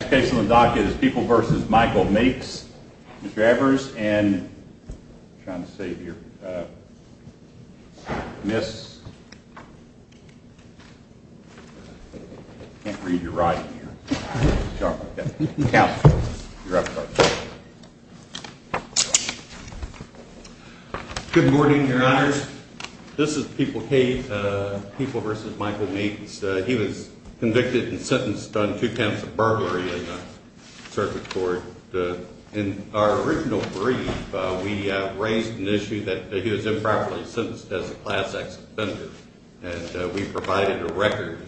People v. Michael Meeks, Mr. Evers, and I'm trying to save here. Miss... I can't read your writing here. Good morning, your honors. This is People Kate, People v. Michael Meeks. He was convicted and sentenced on two counts of burglary. In our original brief, we raised an issue that he was improperly sentenced as a Class X offender. And we provided a record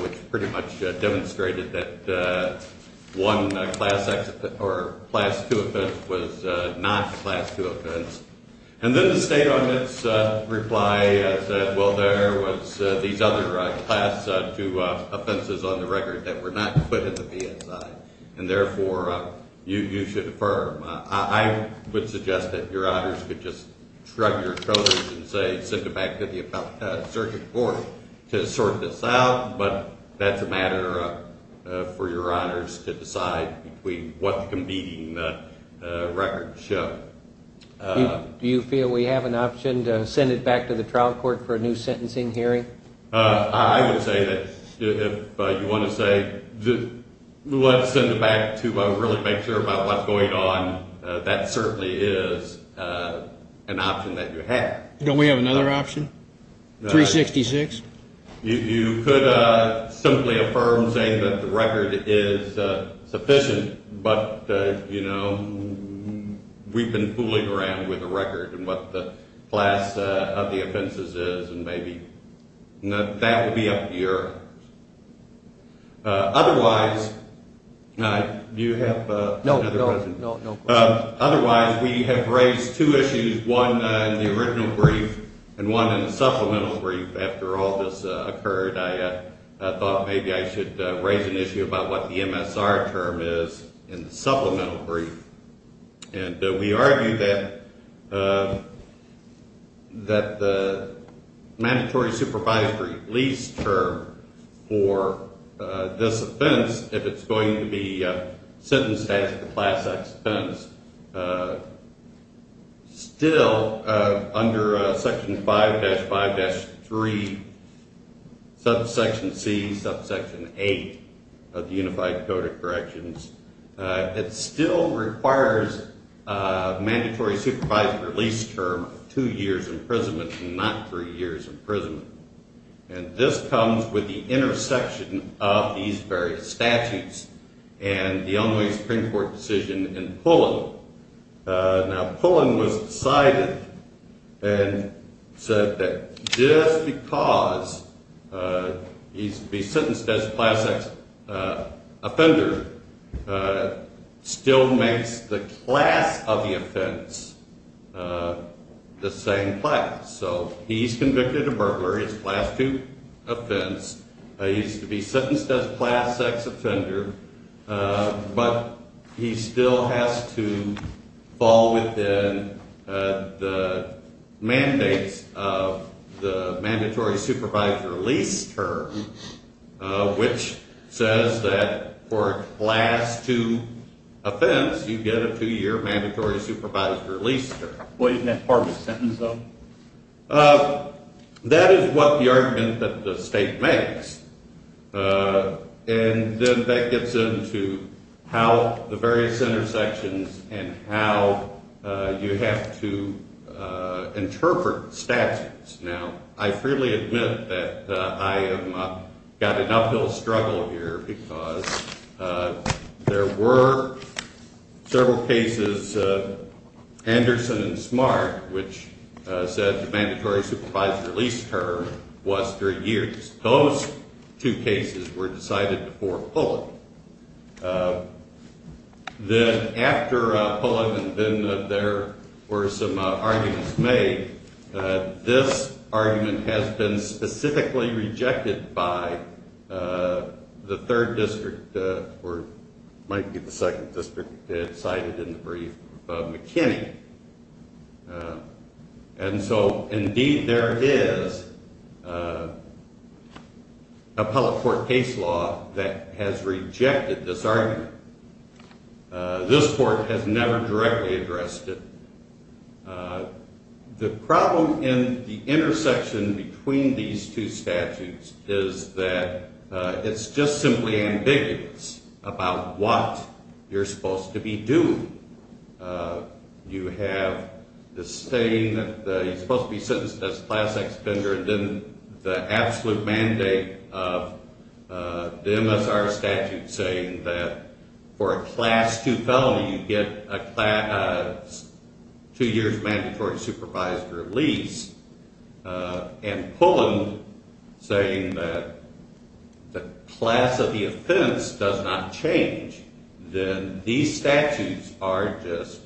which pretty much demonstrated that one Class X or Class II offense was not a Class II offense. And then the state on its reply said, well, there was these other Class II offenses on the record that were not put in the BSI. And therefore, you should affirm. I would suggest that your honors could just shrug your shoulders and say, let's send it back to the circuit court to sort this out, but that's a matter for your honors to decide between what the competing records show. Do you feel we have an option to send it back to the trial court for a new sentencing hearing? I would say that if you want to say, let's send it back to really make sure about what's going on, that certainly is an option that you have. Don't we have another option, 366? You could simply affirm saying that the record is sufficient, but we've been fooling around with the record and what the class of the offenses is, and maybe that would be up to you. Otherwise, we have raised two issues, one in the original brief and one in the supplemental brief. After all this occurred, I thought maybe I should raise an issue about what the MSR term is in the supplemental brief. And we argue that the mandatory supervisory lease term for this offense, if it's going to be sentenced as a class X offense, still under Section 5-5-3, subsection C, subsection 8 of the Unified Code of Corrections, it still requires a mandatory supervisory lease term of two years imprisonment and not three years imprisonment. And this comes with the intersection of these various statutes and the Illinois Supreme Court decision in Pullen. Now, Pullen was decided and said that just because he's to be sentenced as a class X offender still makes the class of the offense the same class. So he's convicted of burglary. It's a class 2 offense. He's to be sentenced as a class X offender, but he still has to fall within the mandates of the mandatory supervisory lease term, which says that for a class 2 offense, you get a two-year mandatory supervisory lease term. What isn't that part of the sentence, though? That is what the argument that the state makes. And then that gets into how the various intersections and how you have to interpret statutes. Now, I freely admit that I have got an uphill struggle here because there were several cases, Anderson and Smart, which said the mandatory supervisory lease term was three years. Those two cases were decided before Pullen. Then after Pullen, then there were some arguments made. This argument has been specifically rejected by the third district, or it might be the second district, cited in the brief, McKinney. And so, indeed, there is appellate court case law that has rejected this argument. This court has never directly addressed it. The problem in the intersection between these two statutes is that it's just simply ambiguous about what you're supposed to be doing. You have this thing that you're supposed to be sentenced as a class X offender, and then the absolute mandate of the MSR statute saying that for a class 2 felony, you get a two-year mandatory supervisory lease, and Pullen saying that the class of the offense does not change, then these statutes are just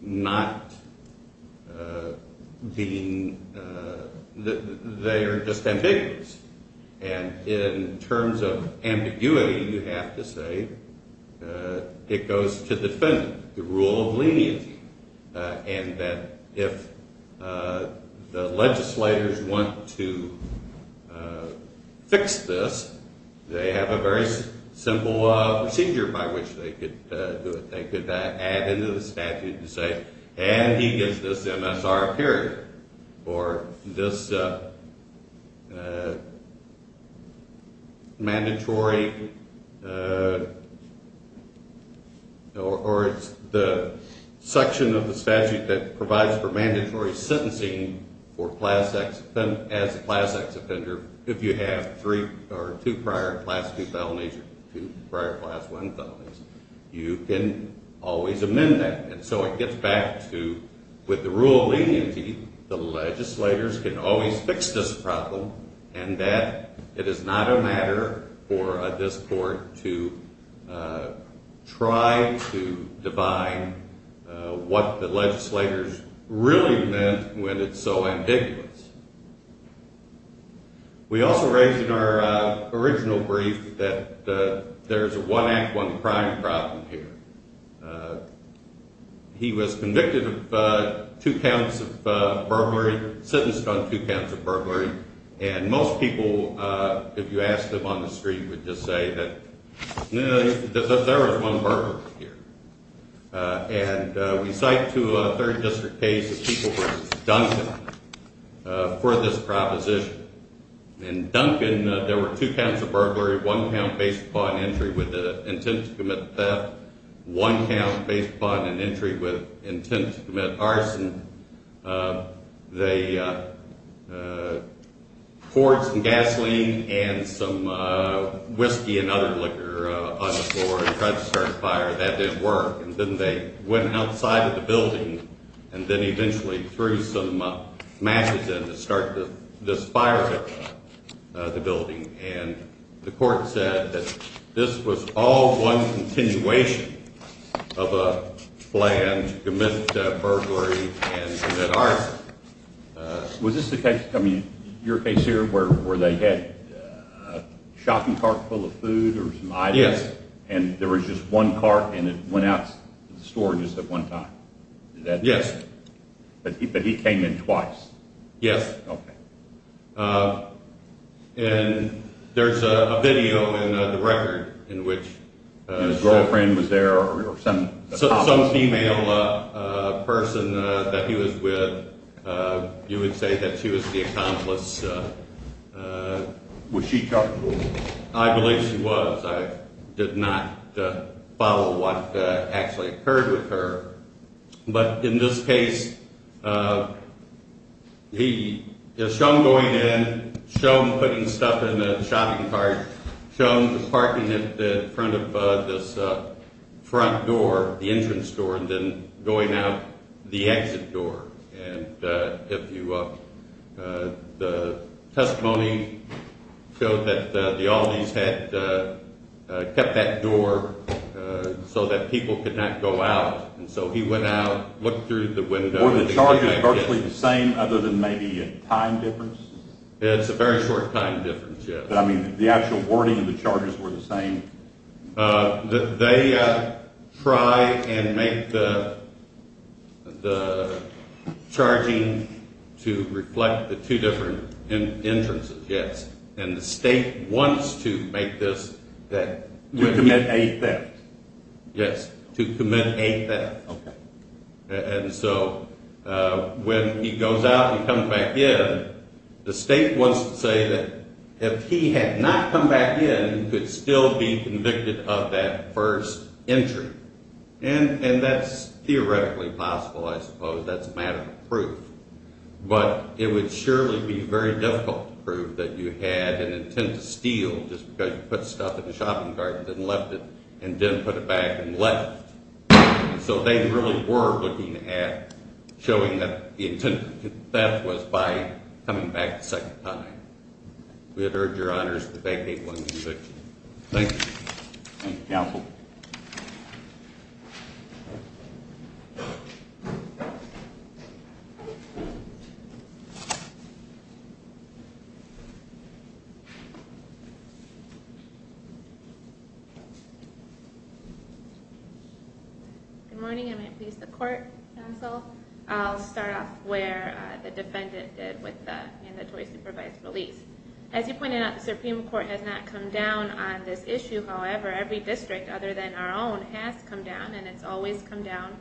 not being – they are just ambiguous. And in terms of ambiguity, you have to say it goes to defendant, the rule of leniency, and that if the legislators want to fix this, they have a very simple procedure by which they could do it. They could add into the statute and say, and he gets this MSR period for this mandatory – or it's the section of the statute that provides for mandatory sentencing for class X – as a class X offender, if you have three or two prior class 2 felonies or two prior class 1 felonies, you can always amend that. And so it gets back to, with the rule of leniency, the legislators can always fix this problem, and that it is not a matter for this court to try to define what the legislators really meant when it's so ambiguous. We also raised in our original brief that there's a one-act-one-crime problem here. He was convicted of two counts of burglary, sentenced on two counts of burglary, and most people, if you ask them on the street, would just say that, no, there was one burglar here. And we cite to a third district case a people named Duncan for this proposition. In Duncan, there were two counts of burglary, one count based upon entry with the intent to commit theft, one count based upon an entry with intent to commit arson. They poured some gasoline and some whiskey and other liquor on the floor and tried to start a fire. That didn't work. And then they went outside of the building and then eventually threw some matches in to start this fire at the building. And the court said that this was all one continuation of a plan to commit burglary and commit arson. Was this the case, I mean, your case here, where they had a shopping cart full of food or some items? Yes. And there was just one cart, and it went out to the store just at one time? Yes. But he came in twice? Yes. Okay. And there's a video in the record in which some female person that he was with, you would say that she was the accomplice. Was she culpable? I believe she was. I did not follow what actually occurred with her. But in this case, he has shown going in, shown putting stuff in the shopping cart, shown parking it in front of this front door, the entrance door, and then going out the exit door. And the testimony showed that the Aldees had kept that door so that people could not go out. And so he went out, looked through the window. Were the charges virtually the same other than maybe a time difference? It's a very short time difference, yes. But, I mean, the actual wording of the charges were the same? They try and make the charging to reflect the two different entrances, yes. And the state wants to make this that. To commit a theft? Yes, to commit a theft. Okay. And so when he goes out and comes back in, the state wants to say that if he had not come back in, he could still be convicted of that first entry. And that's theoretically possible, I suppose. That's a matter of proof. But it would surely be very difficult to prove that you had an intent to steal, just because you put stuff in the shopping cart and then left it, and then put it back and left. So they really were looking at showing that the intent of the theft was by coming back a second time. We would urge your honors to vacate 126. Thank you. Thank you, counsel. Good morning, and may it please the court, counsel. I'll start off where the defendant did with the mandatory supervised release. As you pointed out, the Supreme Court has not come down on this issue. However, every district, other than our own, has come down, and it's always come down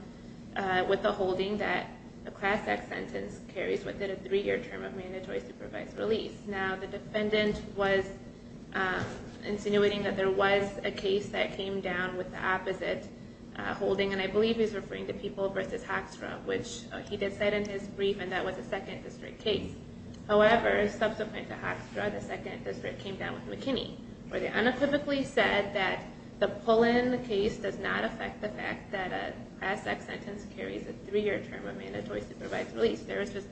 with the holding that a Class Act sentence carries within a three-year term of mandatory supervised release. Now, the defendant was insinuating that there was a case that came down with the opposite holding, and I believe he's referring to People v. Hoekstra, which he did say in his brief, and that was a 2nd District case. However, subsequent to Hoekstra, the 2nd District came down with McKinney, where they unequivocally said that the pull-in case does not affect the fact that a Class Act sentence carries a three-year term of mandatory supervised release. There is just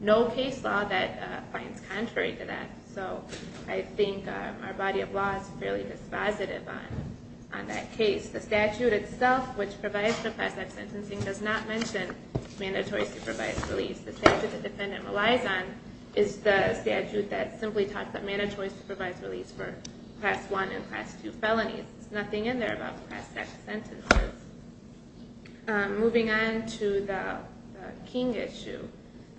no case law that finds contrary to that. So I think our body of law is fairly dispositive on that case. The statute itself, which provides for Class Act sentencing, does not mention mandatory supervised release. The statute the defendant relies on is the statute that simply talks about mandatory supervised release for Class I and Class II felonies. There's nothing in there about Class Act sentences. Moving on to the King issue,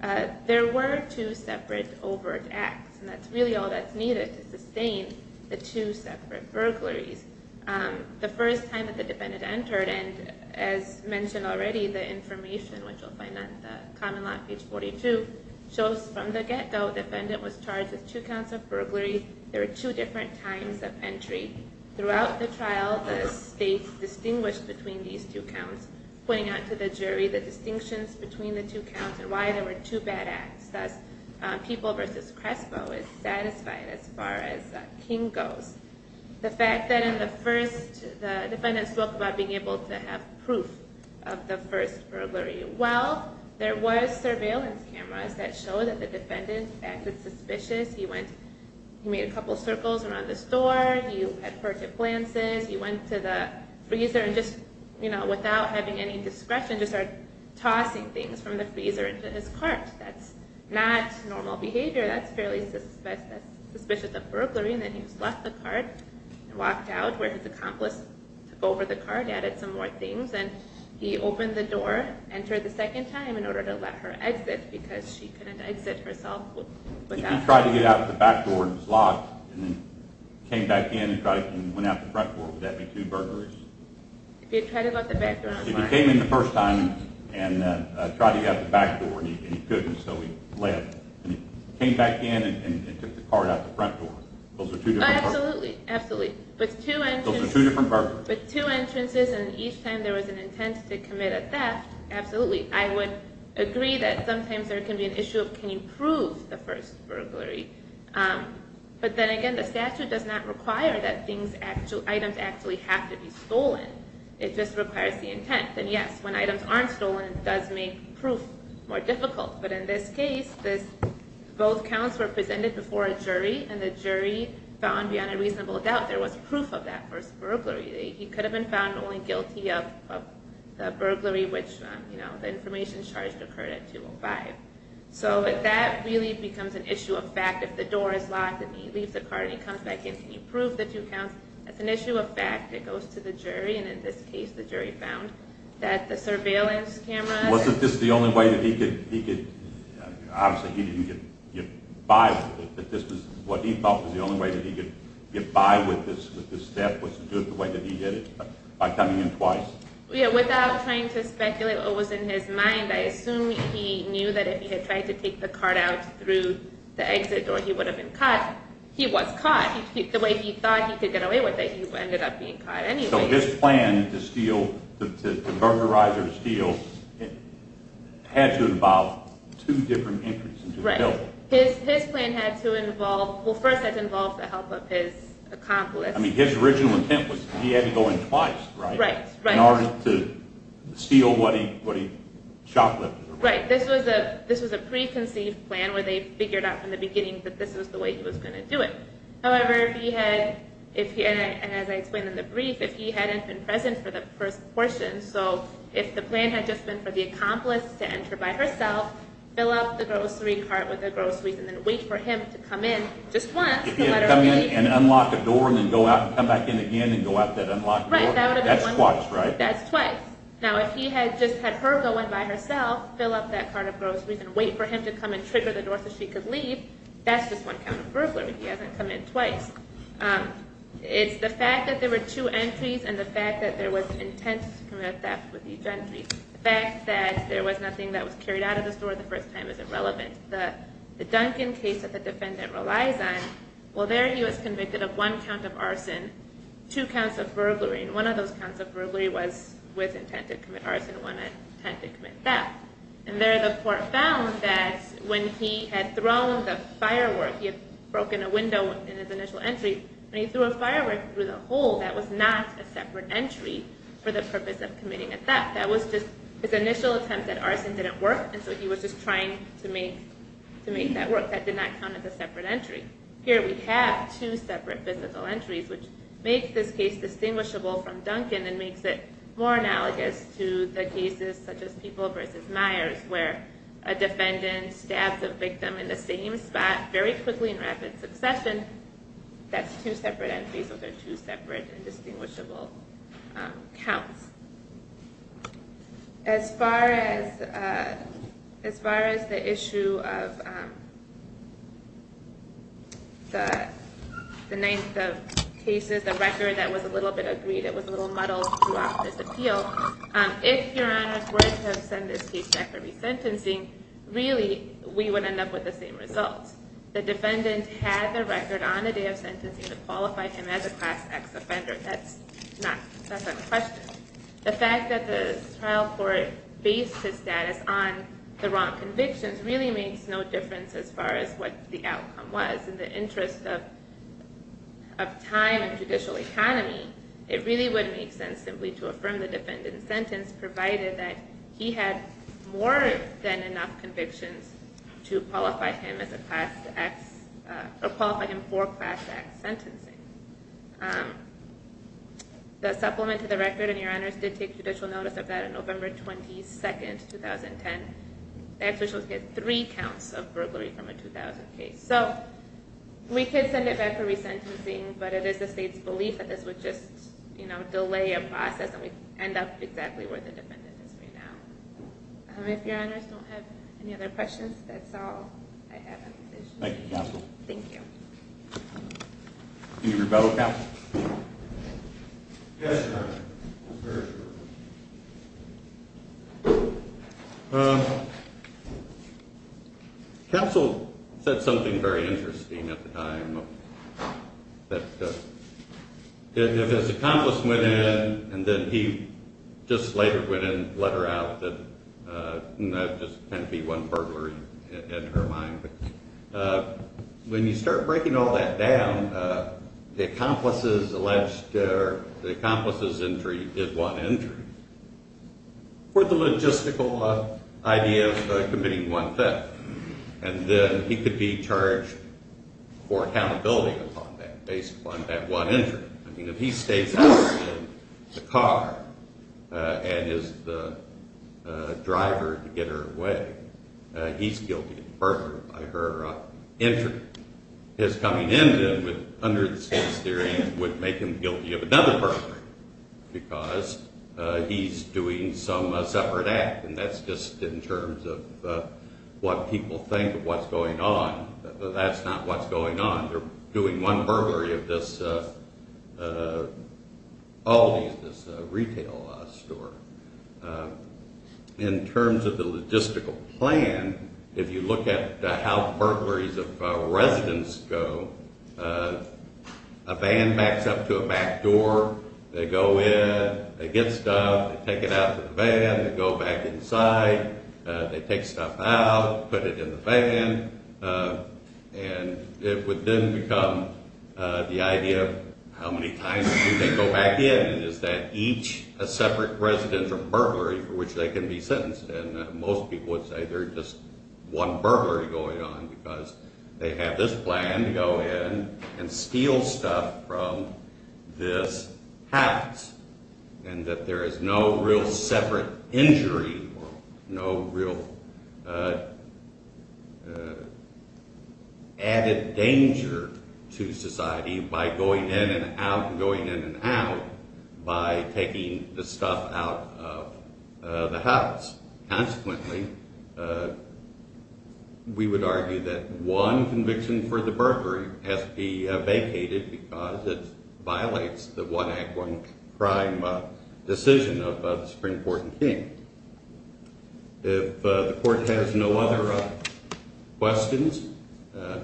there were two separate overt acts, and that's really all that's needed to sustain the two separate burglaries. The first time that the defendant entered, and as mentioned already, the information, which you'll find on the Common Law, page 42, shows from the get-go the defendant was charged with two counts of burglary. Throughout the trial, the state distinguished between these two counts, pointing out to the jury the distinctions between the two counts and why there were two bad acts. Thus, People v. Crespo is satisfied as far as King goes. The fact that in the first, the defendant spoke about being able to have proof of the first burglary. Well, there was surveillance cameras that showed that the defendant acted suspicious. He made a couple of circles around the store. He had purchased plants. He went to the freezer and just, you know, without having any discretion, just started tossing things from the freezer into his cart. That's not normal behavior. That's fairly suspicious of burglary. Then he just left the cart and walked out where his accomplice took over the cart, added some more things, and he opened the door, entered the second time in order to let her exit because she couldn't exit herself without her. If he hadn't tried to get out the back door and it was locked and he came back in and went out the front door, would that be two burglaries? If he had tried to go out the back door, I'm sorry. If he came in the first time and tried to get out the back door and he couldn't, so he left. He came back in and took the cart out the front door. Those are two different burglaries. Absolutely, absolutely. Those are two different burglaries. With two entrances and each time there was an intent to commit a theft, absolutely. I would agree that sometimes there can be an issue of can you prove the first burglary. But then again, the statute does not require that items actually have to be stolen. It just requires the intent. And yes, when items aren't stolen, it does make proof more difficult. But in this case, both counts were presented before a jury, and the jury found beyond a reasonable doubt there was proof of that first burglary. He could have been found only guilty of the burglary, which the information charged occurred at 205. So that really becomes an issue of fact. If the door is locked and he leaves the cart and he comes back in, can you prove the two counts? That's an issue of fact that goes to the jury. And in this case, the jury found that the surveillance cameras… Was this the only way that he could… Obviously, he didn't get by with it, but this was what he thought was the only way that he could get by with this theft, was to do it the way that he did it, by coming in twice. Without trying to speculate what was in his mind, I assume he knew that if he had tried to take the cart out through the exit door, he would have been caught. He was caught. The way he thought he could get away with it, he ended up being caught anyway. So his plan to steal, to burglarize or steal, had to involve two different entries into the building. Right. His plan had to involve… Well, first it involved the help of his accomplice. I mean, his original intent was he had to go in twice, right? Right, right. In order to steal what he shoplifted. Right. This was a preconceived plan where they figured out from the beginning that this was the way he was going to do it. However, if he had… And as I explained in the brief, if he hadn't been present for the first portion, so if the plan had just been for the accomplice to enter by herself, fill up the grocery cart with the groceries and then wait for him to come in just once to let her leave… Come in and unlock a door and then go out and come back in again and go out that unlocked door. Right, that would have been one… That's twice, right? That's twice. Now, if he had just had her go in by herself, fill up that cart of groceries and wait for him to come in so she could leave, that's just one count of burglary. He hasn't come in twice. It's the fact that there were two entries and the fact that there was intent to commit theft with each entry. The fact that there was nothing that was carried out of the store the first time is irrelevant. The Duncan case that the defendant relies on, well, there he was convicted of one count of arson, two counts of burglary, and one of those counts of burglary was with intent to commit arson and one with intent to commit theft. And there the court found that when he had thrown the firework, he had broken a window in his initial entry, when he threw a firework through the hole, that was not a separate entry for the purpose of committing a theft. That was just his initial attempt at arson didn't work and so he was just trying to make that work. That did not count as a separate entry. Here we have two separate physical entries which makes this case distinguishable from Duncan and makes it more analogous to the cases such as People v. Myers where a defendant stabs a victim in the same spot very quickly in rapid succession. That's two separate entries so they're two separate and distinguishable counts. As far as the issue of the ninth of cases, the record that was a little bit agreed, it was a little muddled throughout this appeal, if Your Honor were to send this case back for resentencing, really we would end up with the same results. The defendant had the record on the day of sentencing to qualify him as a Class X offender. That's a question. The fact that the trial court based his status on the wrong convictions really makes no difference as far as what the outcome was. In the interest of time and judicial economy, it really would make sense simply to affirm the defendant's sentence provided that he had more than enough convictions to qualify him as a Class X or qualify him for Class X sentencing. The supplement to the record, and Your Honors did take judicial notice of that on November 22nd, 2010. The ex-judicials get three counts of burglary from a 2000 case. So we could send it back for resentencing, but it is the state's belief that this would just delay a process and we'd end up exactly where the defendant is right now. If Your Honors don't have any other questions, that's all I have on this issue. Thank you, Counsel. Thank you. Can you rebuttal, Counsel? Yes, Your Honor. Counsel said something very interesting at the time, that if his accomplice went in and then he just later went in and let her out, and that just happened to be one burglary in her mind. When you start breaking all that down, the accomplice's injury is one injury. For the logistical idea of committing one theft, and then he could be charged for accountability based upon that one injury. I mean, if he stays out of the car and is the driver to get her away, he's guilty of burglary by her injury. His coming in then, under the state's theory, would make him guilty of another burglary, because he's doing some separate act, and that's just in terms of what people think of what's going on. That's not what's going on. They're doing one burglary of this, all these, this retail store. In terms of the logistical plan, if you look at how burglaries of residents go, a van backs up to a back door. They go in. They get stuff. They take it out to the van. They go back inside. They take stuff out, put it in the van, and it would then become the idea of how many times do they go back in? Is that each a separate residential burglary for which they can be sentenced? And most people would say they're just one burglary going on because they have this plan to go in and steal stuff from this house, and that there is no real separate injury, no real added danger to society by going in and out and going in and out by taking the stuff out of the house. Consequently, we would argue that one conviction for the burglary has to be vacated because it violates the one act, one crime decision of the Supreme Court in King. If the court has no other questions, I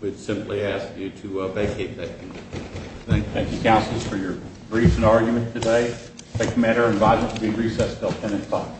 would simply ask you to vacate that conviction. Thank you, counsel, for your brief and argument today. I take the matter in violence to be recessed until 10 o'clock.